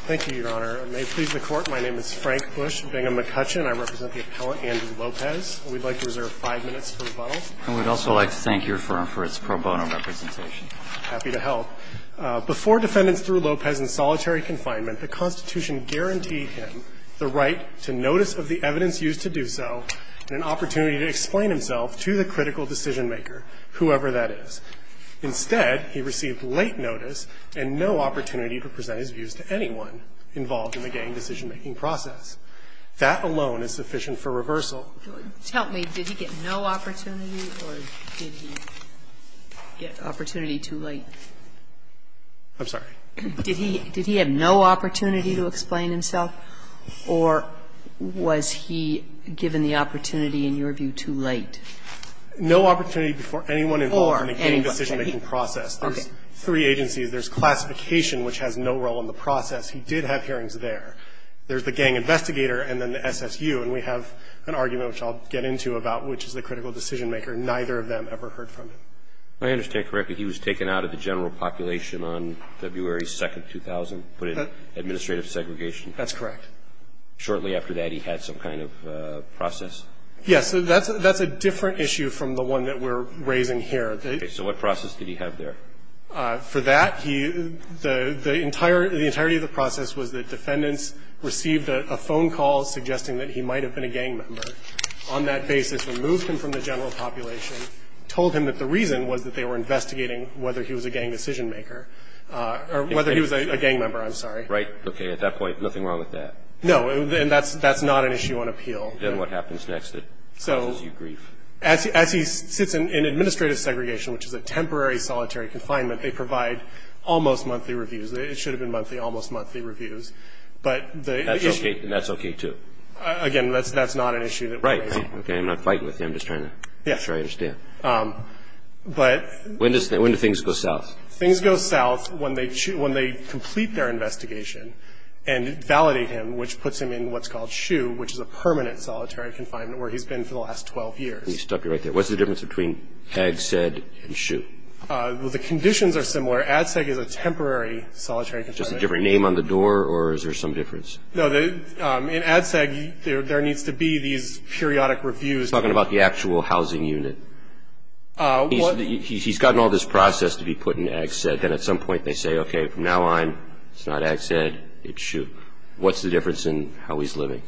Thank you, Your Honor. May it please the Court, my name is Frank Busch Bingham McCutcheon. I represent the appellant, Andrew Lopez. We'd like to reserve five minutes for rebuttal. And we'd also like to thank your firm for its pro bono representation. Happy to help. Before defendants threw Lopez in solitary confinement, the Constitution guaranteed him the right to notice of the evidence used to do so and an opportunity to explain himself to the critical decision-maker, whoever that is. Instead, he received late notice and no opportunity to present his views to anyone involved in the gang decision-making process. That alone is sufficient for reversal. Help me. Did he get no opportunity or did he get opportunity too late? I'm sorry? Did he have no opportunity to explain himself, or was he given the opportunity, in your view, too late? No opportunity before anyone involved in the gang decision-making process. There's three agencies. There's classification, which has no role in the process. He did have hearings there. There's the gang investigator and then the SSU. And we have an argument, which I'll get into, about which is the critical decision-maker. Neither of them ever heard from him. I understand correctly. He was taken out of the general population on February 2, 2000, put in administrative segregation. That's correct. Shortly after that, he had some kind of process. Yes. That's a different issue from the one that we're raising here. So what process did he have there? For that, the entirety of the process was that defendants received a phone call suggesting that he might have been a gang member. On that basis, removed him from the general population, told him that the reason was that they were investigating whether he was a gang decision-maker or whether he was a gang member. I'm sorry. Right. Okay. At that point, nothing wrong with that. No. And that's not an issue on appeal. Then what happens next that causes you grief? As he sits in administrative segregation, which is a temporary solitary confinement, they provide almost monthly reviews. It should have been monthly, almost monthly reviews. But the issue That's okay, too. Again, that's not an issue that we're raising. Right. Okay. I'm not fighting with you. I'm just trying to make sure I understand. But When do things go south? Things go south when they complete their investigation and validate him, which puts him in what's called a permanent solitary confinement, where he's been for the last 12 years. You stuck it right there. What's the difference between AG-SED and SHU? Well, the conditions are similar. ADSEG is a temporary solitary confinement. Just a different name on the door, or is there some difference? No, in ADSEG, there needs to be these periodic reviews. Talking about the actual housing unit, he's gotten all this process to be put in AG-SED. Then at some point, they say, okay, from now on, it's not AG-SED, it's SHU. What's the difference in how he's living?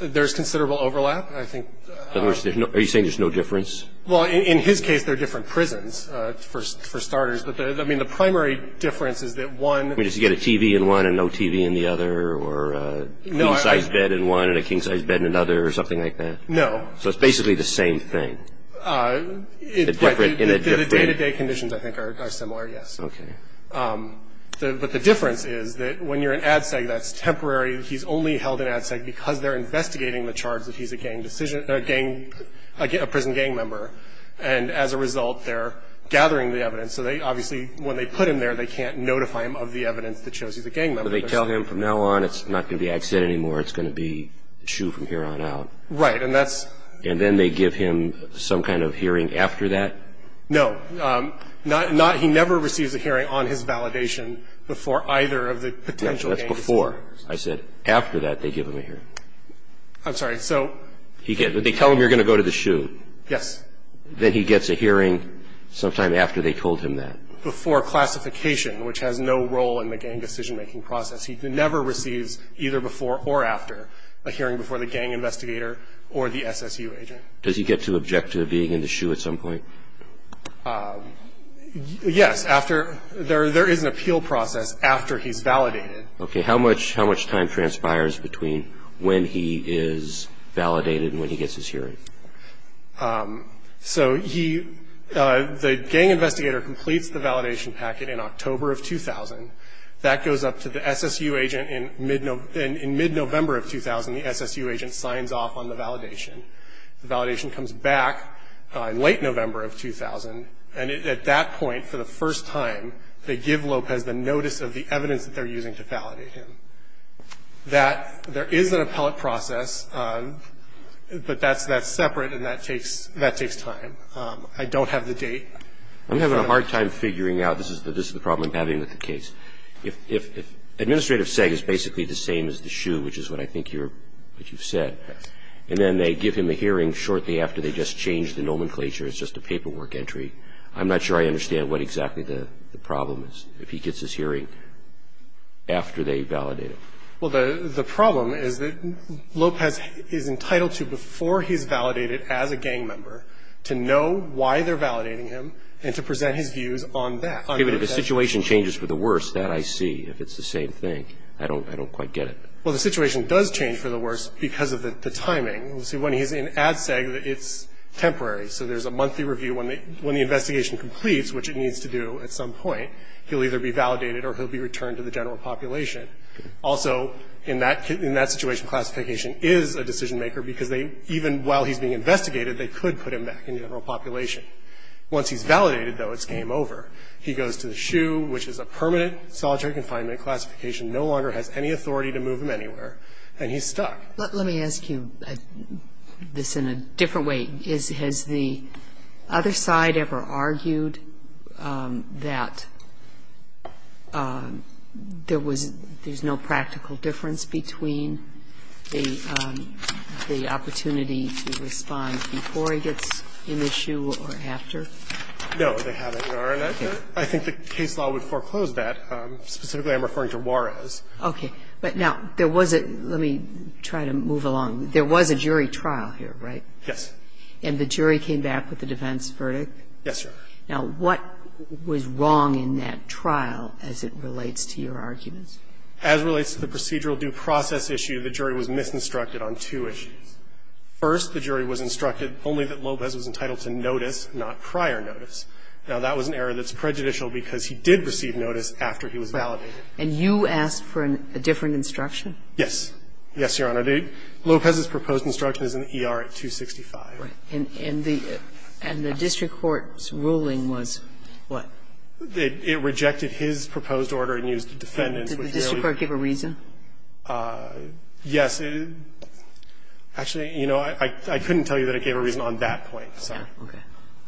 There's considerable overlap, I think. In other words, are you saying there's no difference? Well, in his case, they're different prisons, for starters. But I mean, the primary difference is that one- I mean, does he get a TV in one and no TV in the other, or a king-sized bed in one and a king-sized bed in another, or something like that? No. So it's basically the same thing. The day-to-day conditions, I think, are similar, yes. Okay. But the difference is that when you're in ADSEG, that's temporary. He's only held in ADSEG because they're investigating the charge that he's a gang decision- a gang- a prison gang member. And as a result, they're gathering the evidence. So they obviously, when they put him there, they can't notify him of the evidence that shows he's a gang member. So they tell him, from now on, it's not going to be AG-SED anymore, it's going to be SHU from here on out. Right, and that's- And then they give him some kind of hearing after that? No. Not- he never receives a hearing on his validation before either of the potential- That's before. I said after that they give him a hearing. I'm sorry, so- He gets- they tell him you're going to go to the SHU. Yes. Then he gets a hearing sometime after they told him that. Before classification, which has no role in the gang decision-making process. He never receives, either before or after, a hearing before the gang investigator or the SSU agent. Does he get to object to being in the SHU at some point? Yes, after- there is an appeal process after he's validated. Okay, how much time transpires between when he is validated and when he gets his hearing? So he- the gang investigator completes the validation packet in October of 2000. That goes up to the SSU agent in mid-November of 2000. The SSU agent signs off on the validation. The validation comes back in late November of 2000. And at that point, for the first time, they give Lopez the notice of the evidence that they're using to validate him. That- there is an appellate process, but that's separate and that takes time. I don't have the date. I'm having a hard time figuring out- this is the problem I'm having with the case. If Administrative Seg is basically the same as the SHU, which is what I think you're- what you've said, and then they give him a hearing shortly after they just change the nomenclature, it's just a paperwork entry, I'm not sure I understand what exactly the problem is if he gets his hearing after they validate him. Well, the problem is that Lopez is entitled to, before he's validated as a gang member, to know why they're validating him and to present his views on that. Okay, but if the situation changes for the worse, that I see. If it's the same thing, I don't quite get it. Well, the situation does change for the worse because of the timing. So when he's in Ad Seg, it's temporary. So there's a monthly review. When the investigation completes, which it needs to do at some point, he'll either be validated or he'll be returned to the general population. Also, in that situation, classification is a decision maker because they, even while he's being investigated, they could put him back in general population. Once he's validated, though, it's game over. He goes to the SHU, which is a permanent solitary confinement classification, no longer has any authority to move him anywhere, and he's stuck. Let me ask you this in a different way. Has the other side ever argued that there's no practical difference between the opportunity to respond before he gets in the SHU or after? No, they haven't, Your Honor. I think the case law would foreclose that. Specifically, I'm referring to Juarez. Okay, but now, there was a – let me try to move along. There was a jury trial here, right? Yes. And the jury came back with a defense verdict? Yes, Your Honor. Now, what was wrong in that trial as it relates to your arguments? As it relates to the procedural due process issue, the jury was misinstructed on two issues. First, the jury was instructed only that Lopez was entitled to notice, not prior notice. Now, that was an error that's prejudicial because he did receive notice after he was validated. And you asked for a different instruction? Yes. Yes, Your Honor. But Lopez's proposed instruction is in the ER at 265. Right. And the district court's ruling was what? It rejected his proposed order and used the defendant's. Did the district court give a reason? Yes. Actually, you know, I couldn't tell you that it gave a reason on that point, sorry. Okay.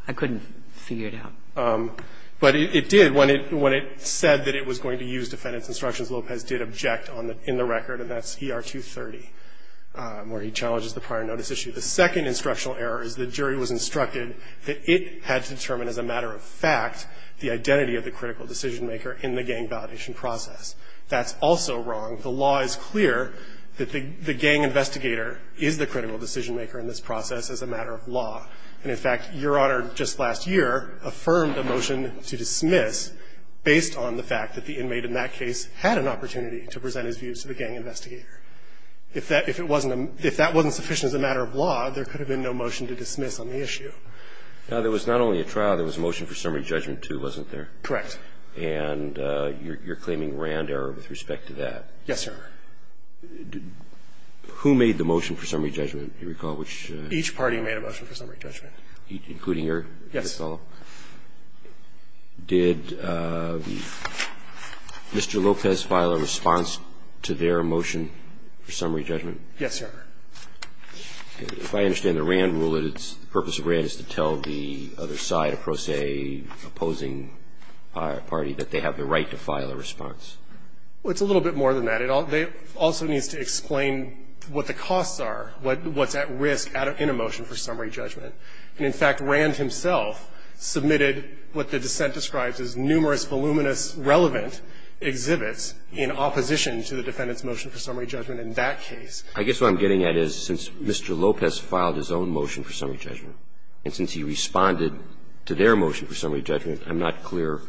I couldn't figure it out. But it did. When it said that it was going to use defendant's instructions, Lopez did object in the record, and that's ER 230. Where he challenges the prior notice issue. The second instructional error is the jury was instructed that it had to determine as a matter of fact the identity of the critical decision-maker in the gang validation process. That's also wrong. The law is clear that the gang investigator is the critical decision-maker in this process as a matter of law. And, in fact, Your Honor just last year affirmed a motion to dismiss based on the fact that the inmate in that case had an opportunity to present his views to the gang investigator. If that wasn't sufficient as a matter of law, there could have been no motion to dismiss on the issue. Now, there was not only a trial. There was a motion for summary judgment, too, wasn't there? Correct. And you're claiming RAND error with respect to that. Yes, Your Honor. Who made the motion for summary judgment, do you recall? Each party made a motion for summary judgment. Including your fellow? Yes. Did Mr. Lopez file a response to their motion? For summary judgment? Yes, Your Honor. If I understand the RAND rule, the purpose of RAND is to tell the other side, a prosaic opposing party, that they have the right to file a response. Well, it's a little bit more than that. It also needs to explain what the costs are, what's at risk in a motion for summary judgment. And, in fact, RAND himself submitted what the dissent describes as numerous voluminous relevant exhibits in opposition to the defendant's motion for summary judgment in that case. I guess what I'm getting at is, since Mr. Lopez filed his own motion for summary judgment, and since he responded to their motion for summary judgment, I'm not clear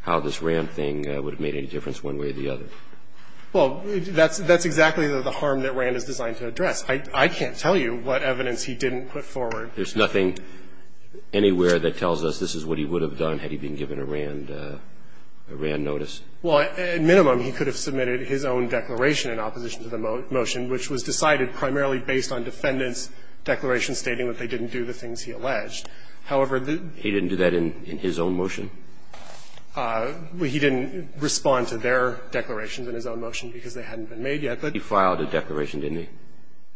how this RAND thing would have made any difference one way or the other. Well, that's exactly the harm that RAND is designed to address. I can't tell you what evidence he didn't put forward. There's nothing anywhere that tells us this is what he would have done had he been given a RAND notice. Well, at minimum, he could have submitted his own declaration in opposition to the motion, which was decided primarily based on defendants' declarations stating that they didn't do the things he alleged. However, the ---- He didn't do that in his own motion? He didn't respond to their declarations in his own motion because they hadn't been made yet, but ---- He filed a declaration, didn't he?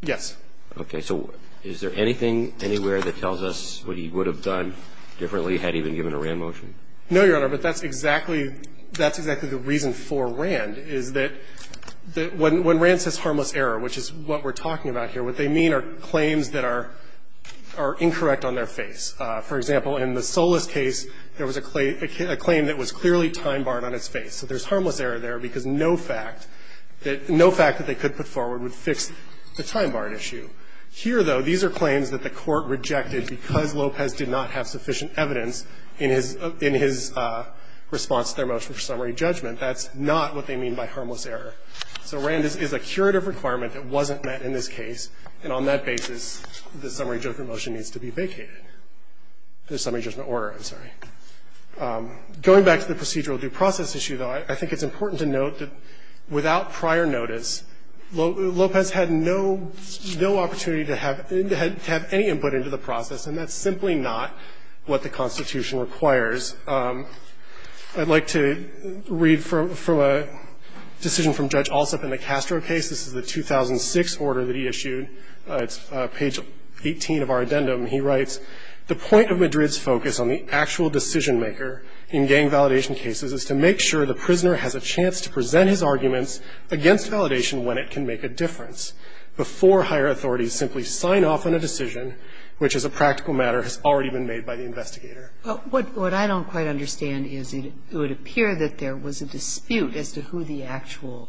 Yes. Okay. So is there anything anywhere that tells us what he would have done differently had he been given a RAND motion? No, Your Honor, but that's exactly the reason for RAND, is that when RAND says harmless error, which is what we're talking about here, what they mean are claims that are incorrect on their face. For example, in the Solis case, there was a claim that was clearly time-barred on its face. So there's harmless error there because no fact that they could put forward would fix the time-barred issue. Here, though, these are claims that the Court rejected because Lopez did not have sufficient evidence in his response to their motion for summary judgment. That's not what they mean by harmless error. So RAND is a curative requirement that wasn't met in this case, and on that basis, the summary judgment motion needs to be vacated. The summary judgment order, I'm sorry. Going back to the procedural due process issue, though, I think it's important to note that without prior notice, Lopez had no opportunity to have any input into the process, and that's simply not what the Constitution requires. I'd like to read from a decision from Judge Alsup in the Castro case. This is the 2006 order that he issued. It's page 18 of our addendum. He writes, The point of Madrid's focus on the actual decision-maker in gang validation cases is to make sure the prisoner has a chance to present his arguments against validation when it can make a difference. Before higher authorities simply sign off on a decision, which as a practical matter has already been made by the investigator. Well, what I don't quite understand is it would appear that there was a dispute as to who the actual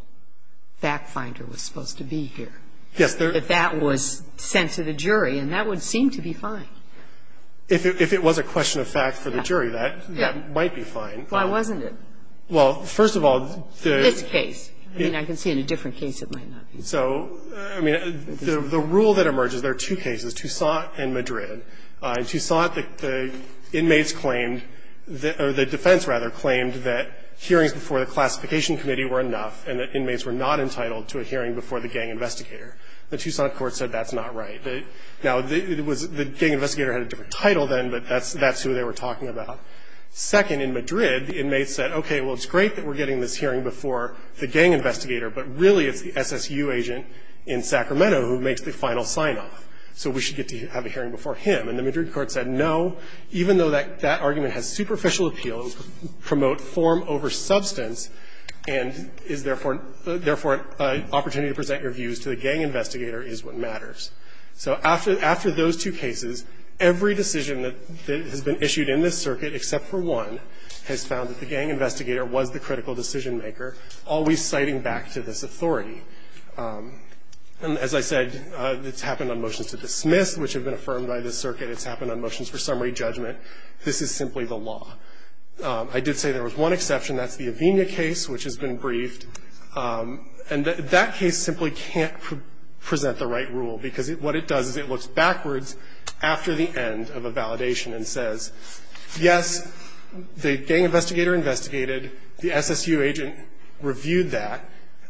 fact-finder was supposed to be here. Yes. That that was sent to the jury, and that would seem to be fine. If it was a question of fact for the jury, that might be fine. Why wasn't it? Well, first of all, the This case. I mean, I can see in a different case it might not be. So, I mean, the rule that emerges, there are two cases, Toussaint and Madrid. In Toussaint, the inmates claimed, or the defense, rather, claimed that hearings before the classification committee were enough, and that inmates were not entitled to a hearing before the gang investigator. The Toussaint court said that's not right. Now, the gang investigator had a different title then, but that's who they were talking about. Second, in Madrid, the inmates said, okay, well, it's great that we're getting this hearing before the gang investigator. But really, it's the SSU agent in Sacramento who makes the final sign-off. So we should get to have a hearing before him. And the Madrid court said, no, even though that argument has superficial appeal, promote form over substance, and is therefore an opportunity to present your views to the gang investigator, is what matters. So after those two cases, every decision that has been issued in this circuit, except for one, has found that the gang investigator was the critical decision maker, always citing back to this authority. And as I said, it's happened on motions to dismiss, which have been affirmed by this circuit. It's happened on motions for summary judgment. This is simply the law. I did say there was one exception. That's the Avenia case, which has been briefed. And that case simply can't present the right rule, because what it does is it looks backwards after the end of a validation and says, yes, the gang investigator investigated, the SSU agent reviewed that,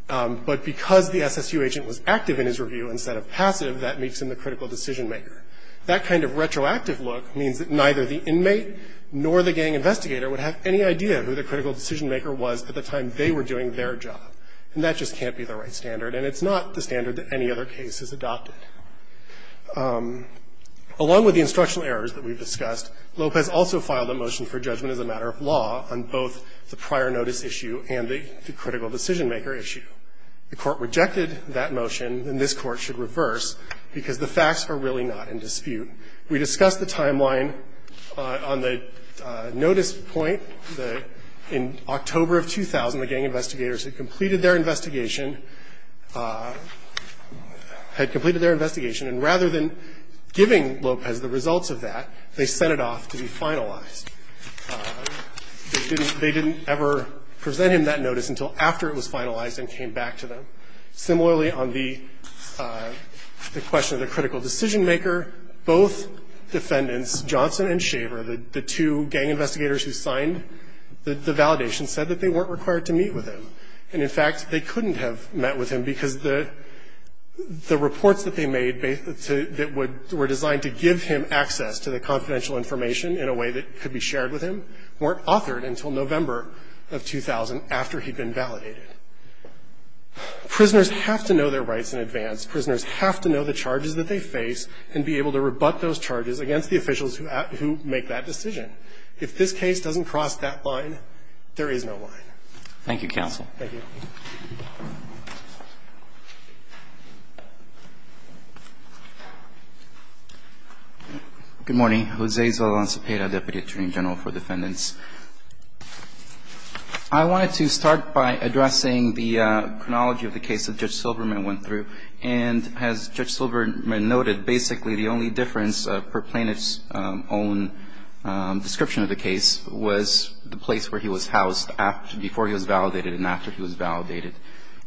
but because the SSU agent was active in his review instead of passive, that makes him the critical decision maker. That kind of retroactive look means that neither the inmate nor the gang investigator would have any idea who the critical decision maker was at the time they were doing their job. And that just can't be the right standard. And it's not the standard that any other case has adopted. Along with the instructional errors that we've discussed, Lopez also filed a motion for judgment as a matter of law on both the prior notice issue and the critical decision maker issue. The Court rejected that motion, and this Court should reverse, because the facts are really not in dispute. We discussed the timeline on the notice point, that in October of 2000, the gang investigators had completed their investigation, had completed their investigation, and rather than giving Lopez the results of that, they sent it off to be finalized. They didn't ever present him that notice until after it was finalized and came back to them. Similarly, on the question of the critical decision maker, both defendants, Johnson and Shaver, the two gang investigators who signed the validation, said that they weren't required to meet with him. And, in fact, they couldn't have met with him because the reports that they made that were designed to give him access to the confidential information in a way that could be shared with him weren't authored until November of 2000, after he'd been validated. Prisoners have to know their rights in advance. Prisoners have to know the charges that they face and be able to rebut those charges against the officials who make that decision. If this case doesn't cross that line, there is no line. Thank you, counsel. Thank you. Good morning. I'm Jose Zaldan Cepeda, Deputy Attorney General for Defendants. I wanted to start by addressing the chronology of the case that Judge Silverman went through. And as Judge Silverman noted, basically the only difference per plaintiff's own description of the case was the place where he was housed before he was validated and after he was validated.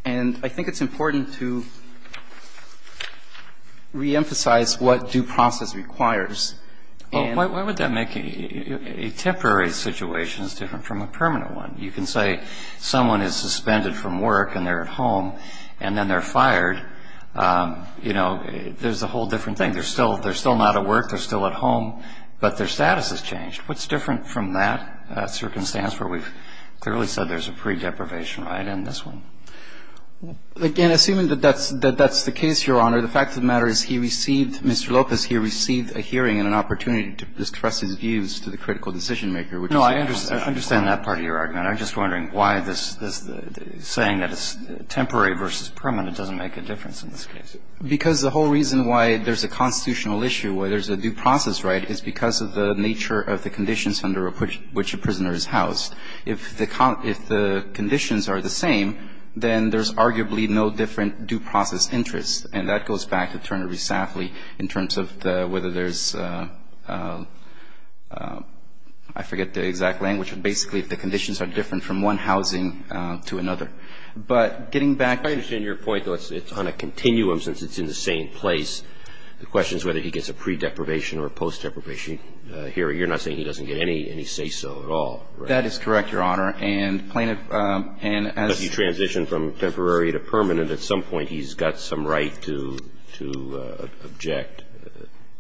And I think it's important to reemphasize what due process requires. Why would that make a temporary situation different from a permanent one? You can say someone is suspended from work and they're at home and then they're fired. You know, there's a whole different thing. They're still not at work. They're still at home. But their status has changed. What's different from that circumstance where we've clearly said there's a predeprivation right in this one? Again, assuming that that's the case, Your Honor, the fact of the matter is he received And Mr. Lopez, he received a hearing and an opportunity to express his views to the critical decision-maker, which is important. No, I understand that part of your argument. I'm just wondering why this saying that it's temporary versus permanent doesn't make a difference in this case. Because the whole reason why there's a constitutional issue, why there's a due process right, is because of the nature of the conditions under which a prisoner is housed. If the conditions are the same, then there's arguably no different due process interest. And that goes back to Turner v. Safley in terms of whether there's, I forget the exact language, but basically if the conditions are different from one housing to another. But getting back to the... I understand your point, though. It's on a continuum since it's in the same place. The question is whether he gets a predeprivation or a post-deprivation hearing. You're not saying he doesn't get any say-so at all, right? That is correct, Your Honor. And plaintiff, and as... I'm just saying that he's got some right to be able to make a decision from temporary to permanent at some point. He's got some right to object...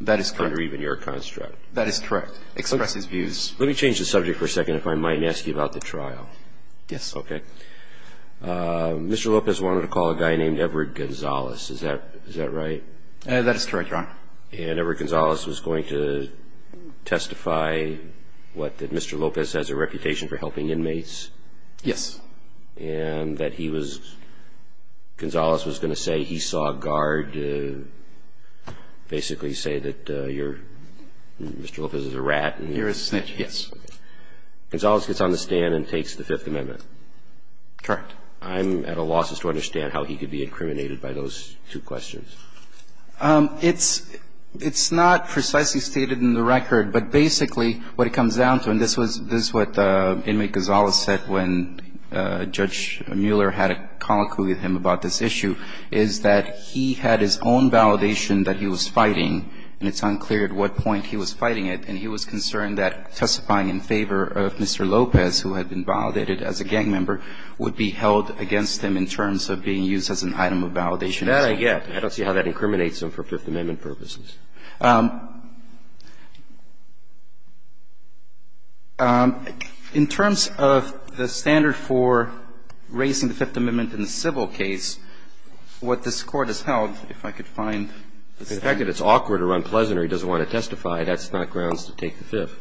That is correct. ...under even your construct. That is correct. Express his views. Let me change the subject for a second if I might and ask you about the trial. Yes. Okay. Mr. Lopez wanted to call a guy named Everett Gonzales. Is that right? That is correct, Your Honor. And Everett Gonzales was going to testify, what, that Mr. Lopez has a reputation for helping inmates? Yes. And that he was... Gonzales was going to say he saw a guard basically say that you're... Mr. Lopez is a rat. You're a snitch, yes. Gonzales gets on the stand and takes the Fifth Amendment. Correct. I'm at a loss as to understand how he could be incriminated by those two questions. It's not precisely stated in the record, but basically what it comes down to, and this is what Inmate Gonzales said when Judge Mueller had a colloquy with him about this issue, is that he had his own validation that he was fighting, and it's unclear at what point he was fighting it, and he was concerned that testifying in favor of Mr. Lopez, who had been validated as a gang member, would be held against him in terms of being used as an item of validation. That I get. I don't see how that incriminates him for Fifth Amendment purposes. In terms of the standard for raising the Fifth Amendment in a civil case, what this Court has held, if I could find... The fact that it's awkward or unpleasant or he doesn't want to testify, that's not grounds to take the Fifth.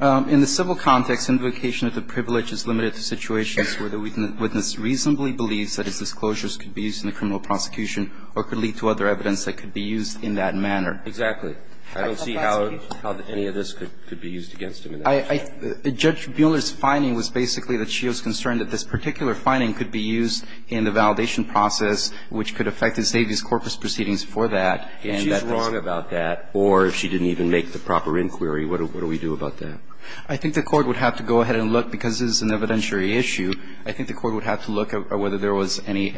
In the civil context, invocation of the privilege is limited to situations where the witness reasonably believes that his disclosures could be used in a criminal prosecution or could lead to other evidence that could be used in that manner. Exactly. I don't see how any of this could be used against him. Judge Mueller's finding was basically that she was concerned that this particular finding could be used in the validation process, which could affect his Davies Corpus proceedings for that. If she's wrong about that or if she didn't even make the proper inquiry, what do we do about that? I think the Court would have to go ahead and look. Because this is an evidentiary issue, I think the Court would have to look at whether there was any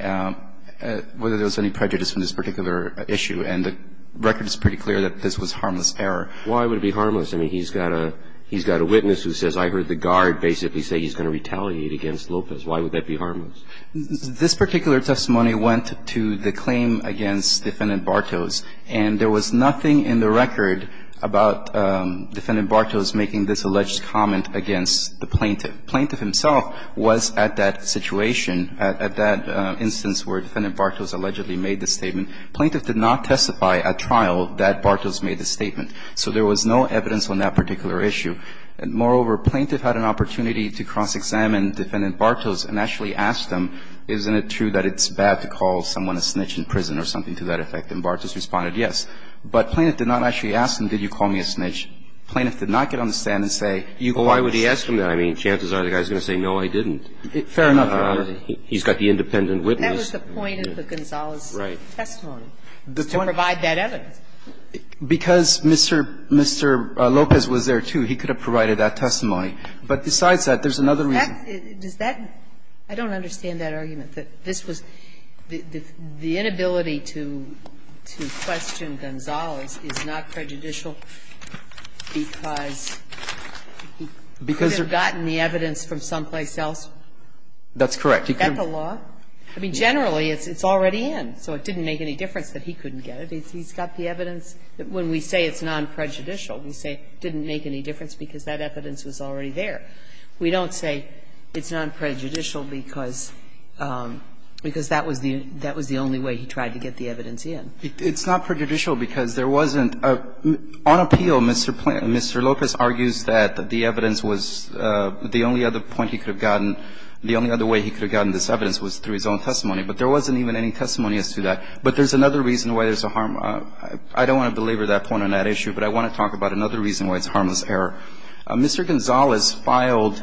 prejudice in this particular issue. And the record is pretty clear that this was harmless error. Why would it be harmless? I mean, he's got a witness who says, I heard the guard basically say he's going to retaliate against Lopez. Why would that be harmless? This particular testimony went to the claim against Defendant Bartos. And there was nothing in the record about Defendant Bartos making this alleged comment against the plaintiff. The plaintiff himself was at that situation, at that instance where Defendant Bartos allegedly made the statement. The plaintiff did not testify at trial that Bartos made the statement. So there was no evidence on that particular issue. Moreover, the plaintiff had an opportunity to cross-examine Defendant Bartos and actually ask him, isn't it true that it's bad to call someone a snitch in prison or something to that effect, and Bartos responded yes. But the plaintiff did not actually ask him, did you call me a snitch? The plaintiff did not get on the stand and say, you called me a snitch. Why would he ask him that? I mean, chances are the guy's going to say, no, I didn't. Fair enough, Your Honor. He's got the independent witness. That was the point of the Gonzales testimony, to provide that evidence. Because Mr. Lopez was there, too. He could have provided that testimony. But besides that, there's another reason. I don't understand that argument, that this was the inability to question Gonzales is not prejudicial because he could have gotten the evidence from someplace else? That's correct. Is that the law? I mean, generally, it's already in. So it didn't make any difference that he couldn't get it. He's got the evidence. When we say it's non-prejudicial, we say it didn't make any difference because that evidence was already there. We don't say it's non-prejudicial because that was the only way he tried to get the evidence in. It's not prejudicial because there wasn't an appeal. Mr. Lopez argues that the evidence was the only other point he could have gotten, the only other way he could have gotten this evidence was through his own testimony. But there wasn't even any testimony as to that. But there's another reason why there's a harm. I don't want to belabor that point on that issue, but I want to talk about another reason why it's a harmless error. Mr. Gonzales filed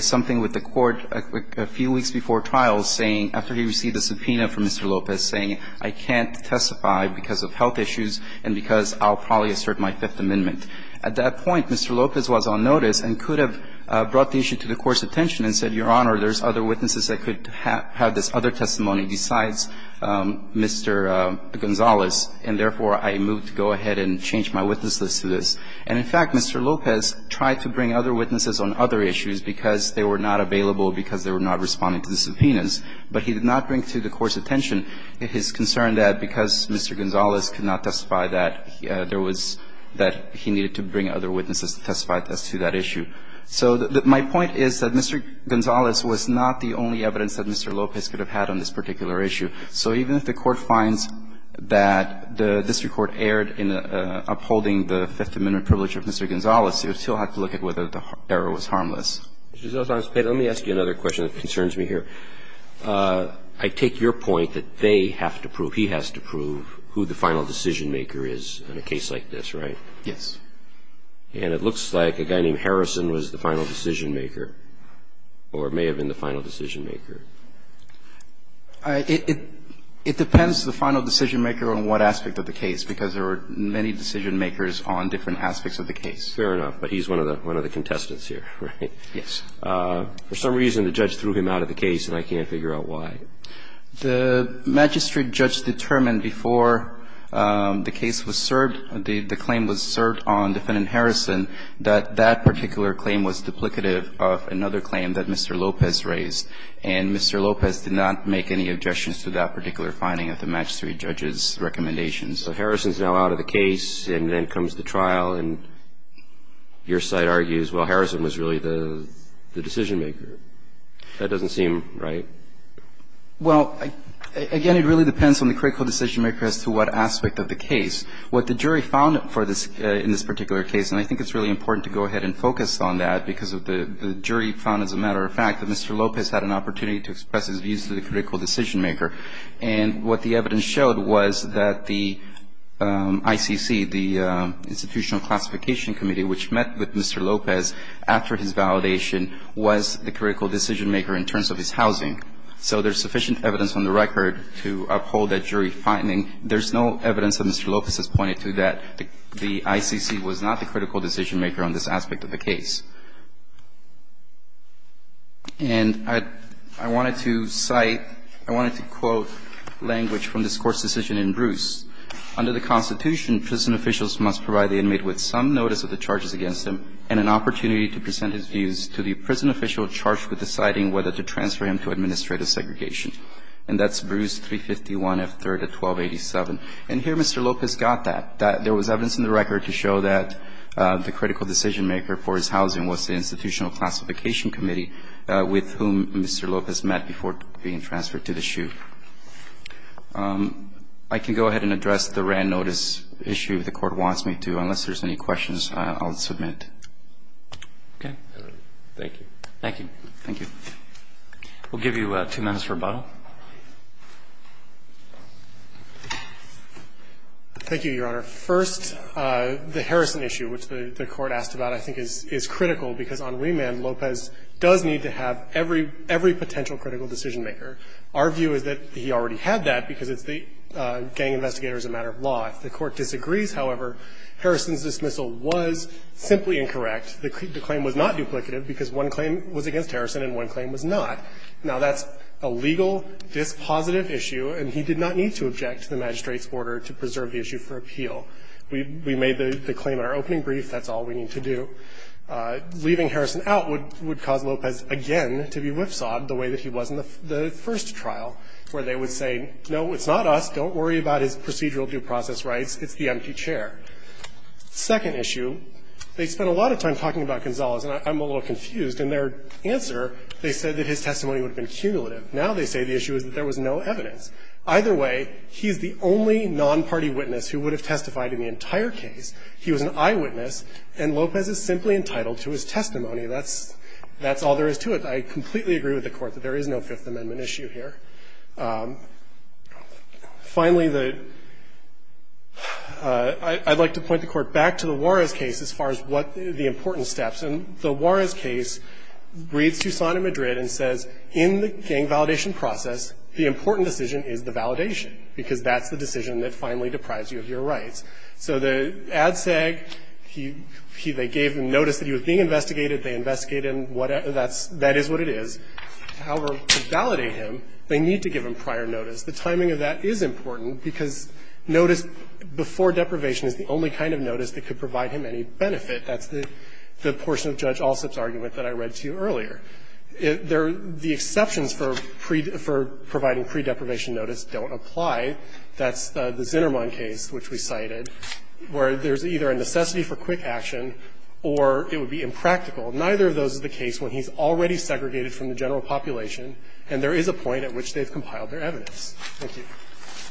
something with the Court a few weeks before trial saying, after he received a subpoena from Mr. Lopez, saying, I can't testify because of health issues and because I'll probably assert my Fifth Amendment. At that point, Mr. Lopez was on notice and could have brought the issue to the Court's attention and said, Your Honor, there's other witnesses that could have this other testimony besides Mr. Gonzales, and therefore I move to go ahead and change my witness list to this. And in fact, Mr. Lopez tried to bring other witnesses on other issues because they were not available, because they were not responding to the subpoenas. But he did not bring to the Court's attention his concern that because Mr. Gonzales could not testify that there was that he needed to bring other witnesses to testify to that issue. So my point is that Mr. Gonzales was not the only evidence that Mr. Lopez could have had on this particular issue. So even if the Court finds that the district court erred in upholding the Fifth Amendment privilege of Mr. Gonzales, it would still have to look at whether the error was harmless. Mr. Gonzales, let me ask you another question that concerns me here. I take your point that they have to prove, he has to prove who the final decision maker is in a case like this, right? Yes. And it looks like a guy named Harrison was the final decision maker or may have been the final decision maker. It depends the final decision maker on what aspect of the case, because there were many decision makers on different aspects of the case. Fair enough. But he's one of the contestants here, right? Yes. For some reason the judge threw him out of the case and I can't figure out why. The magistrate judge determined before the case was served, the claim was served on defendant Harrison, that that particular claim was duplicative of another claim that Mr. Lopez raised. And Mr. Lopez did not make any objections to that particular finding of the magistrate judge's recommendations. So Harrison is now out of the case and then comes to trial and your side argues, well, Harrison was really the decision maker. That doesn't seem right. Well, again, it really depends on the critical decision maker as to what aspect of the case. What the jury found in this particular case, and I think it's really important to go ahead and focus on that because the jury found as a matter of fact that Mr. Lopez had an opportunity to express his views to the critical decision maker. And what the evidence showed was that the ICC, the Institutional Classification Committee, which met with Mr. Lopez after his validation, was the critical decision maker in terms of his housing. So there's sufficient evidence on the record to uphold that jury finding. There's no evidence that Mr. Lopez has pointed to that the ICC was not the critical decision maker on this aspect of the case. And I wanted to cite, I wanted to quote language from this Court's decision in Bruce. Under the Constitution, prison officials must provide the inmate with some notice of the charges against him and an opportunity to present his views to the prison official charged with deciding whether to transfer him to administrative segregation. And that's Bruce 351 F. 3rd of 1287. And here Mr. Lopez got that. There was evidence in the record to show that the critical decision maker for his housing was the Institutional Classification Committee with whom Mr. Lopez met before being transferred to the SHU. I can go ahead and address the Wran notice issue if the Court wants me to. Unless there's any questions, I'll submit. Roberts. Okay. Thank you. Thank you. Thank you. We'll give you two minutes for rebuttal. Thank you, Your Honor. First, the Harrison issue, which the Court asked about, I think is critical because on remand Lopez does need to have every potential critical decision maker. Our view is that he already had that because it's the gang investigator's a matter of law. If the Court disagrees, however, Harrison's dismissal was simply incorrect. The claim was not duplicative because one claim was against Harrison and one claim was not. Now, that's a legal dispositive issue, and he did not need to object to the magistrate's order to preserve the issue for appeal. We made the claim in our opening brief. That's all we need to do. Leaving Harrison out would cause Lopez again to be whipsawed the way that he was in the first trial, where they would say, no, it's not us. Don't worry about his procedural due process rights. It's the empty chair. Second issue, they spent a lot of time talking about Gonzalez, and I'm a little confused. In their answer, they said that his testimony would have been cumulative. Now they say the issue is that there was no evidence. Either way, he's the only nonparty witness who would have testified in the entire case. He was an eyewitness, and Lopez is simply entitled to his testimony. That's all there is to it. I completely agree with the Court that there is no Fifth Amendment issue here. Finally, the – I'd like to point the Court back to the Juarez case as far as what the important steps. And the Juarez case reads Tucson and Madrid and says, in the gang validation process, the important decision is the validation, because that's the decision that finally deprives you of your rights. So the ADSEG, he – they gave him notice that he was being investigated. They investigate him. That's – that is what it is. However, to validate him, they need to give him prior notice. The timing of that is important, because notice before deprivation is the only kind of notice that could provide him any benefit. That's the portion of Judge Alsup's argument that I read to you earlier. The exceptions for providing pre-deprivation notice don't apply. That's the Zinnerman case, which we cited, where there's either a necessity for quick action or it would be impractical. Neither of those is the case when he's already segregated from the general population, and there is a point at which they've compiled their evidence. Thank you. Roberts.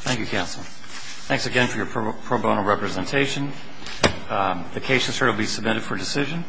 Thank you, counsel. Thanks again for your pro bono representation. The case is here to be submitted for decision.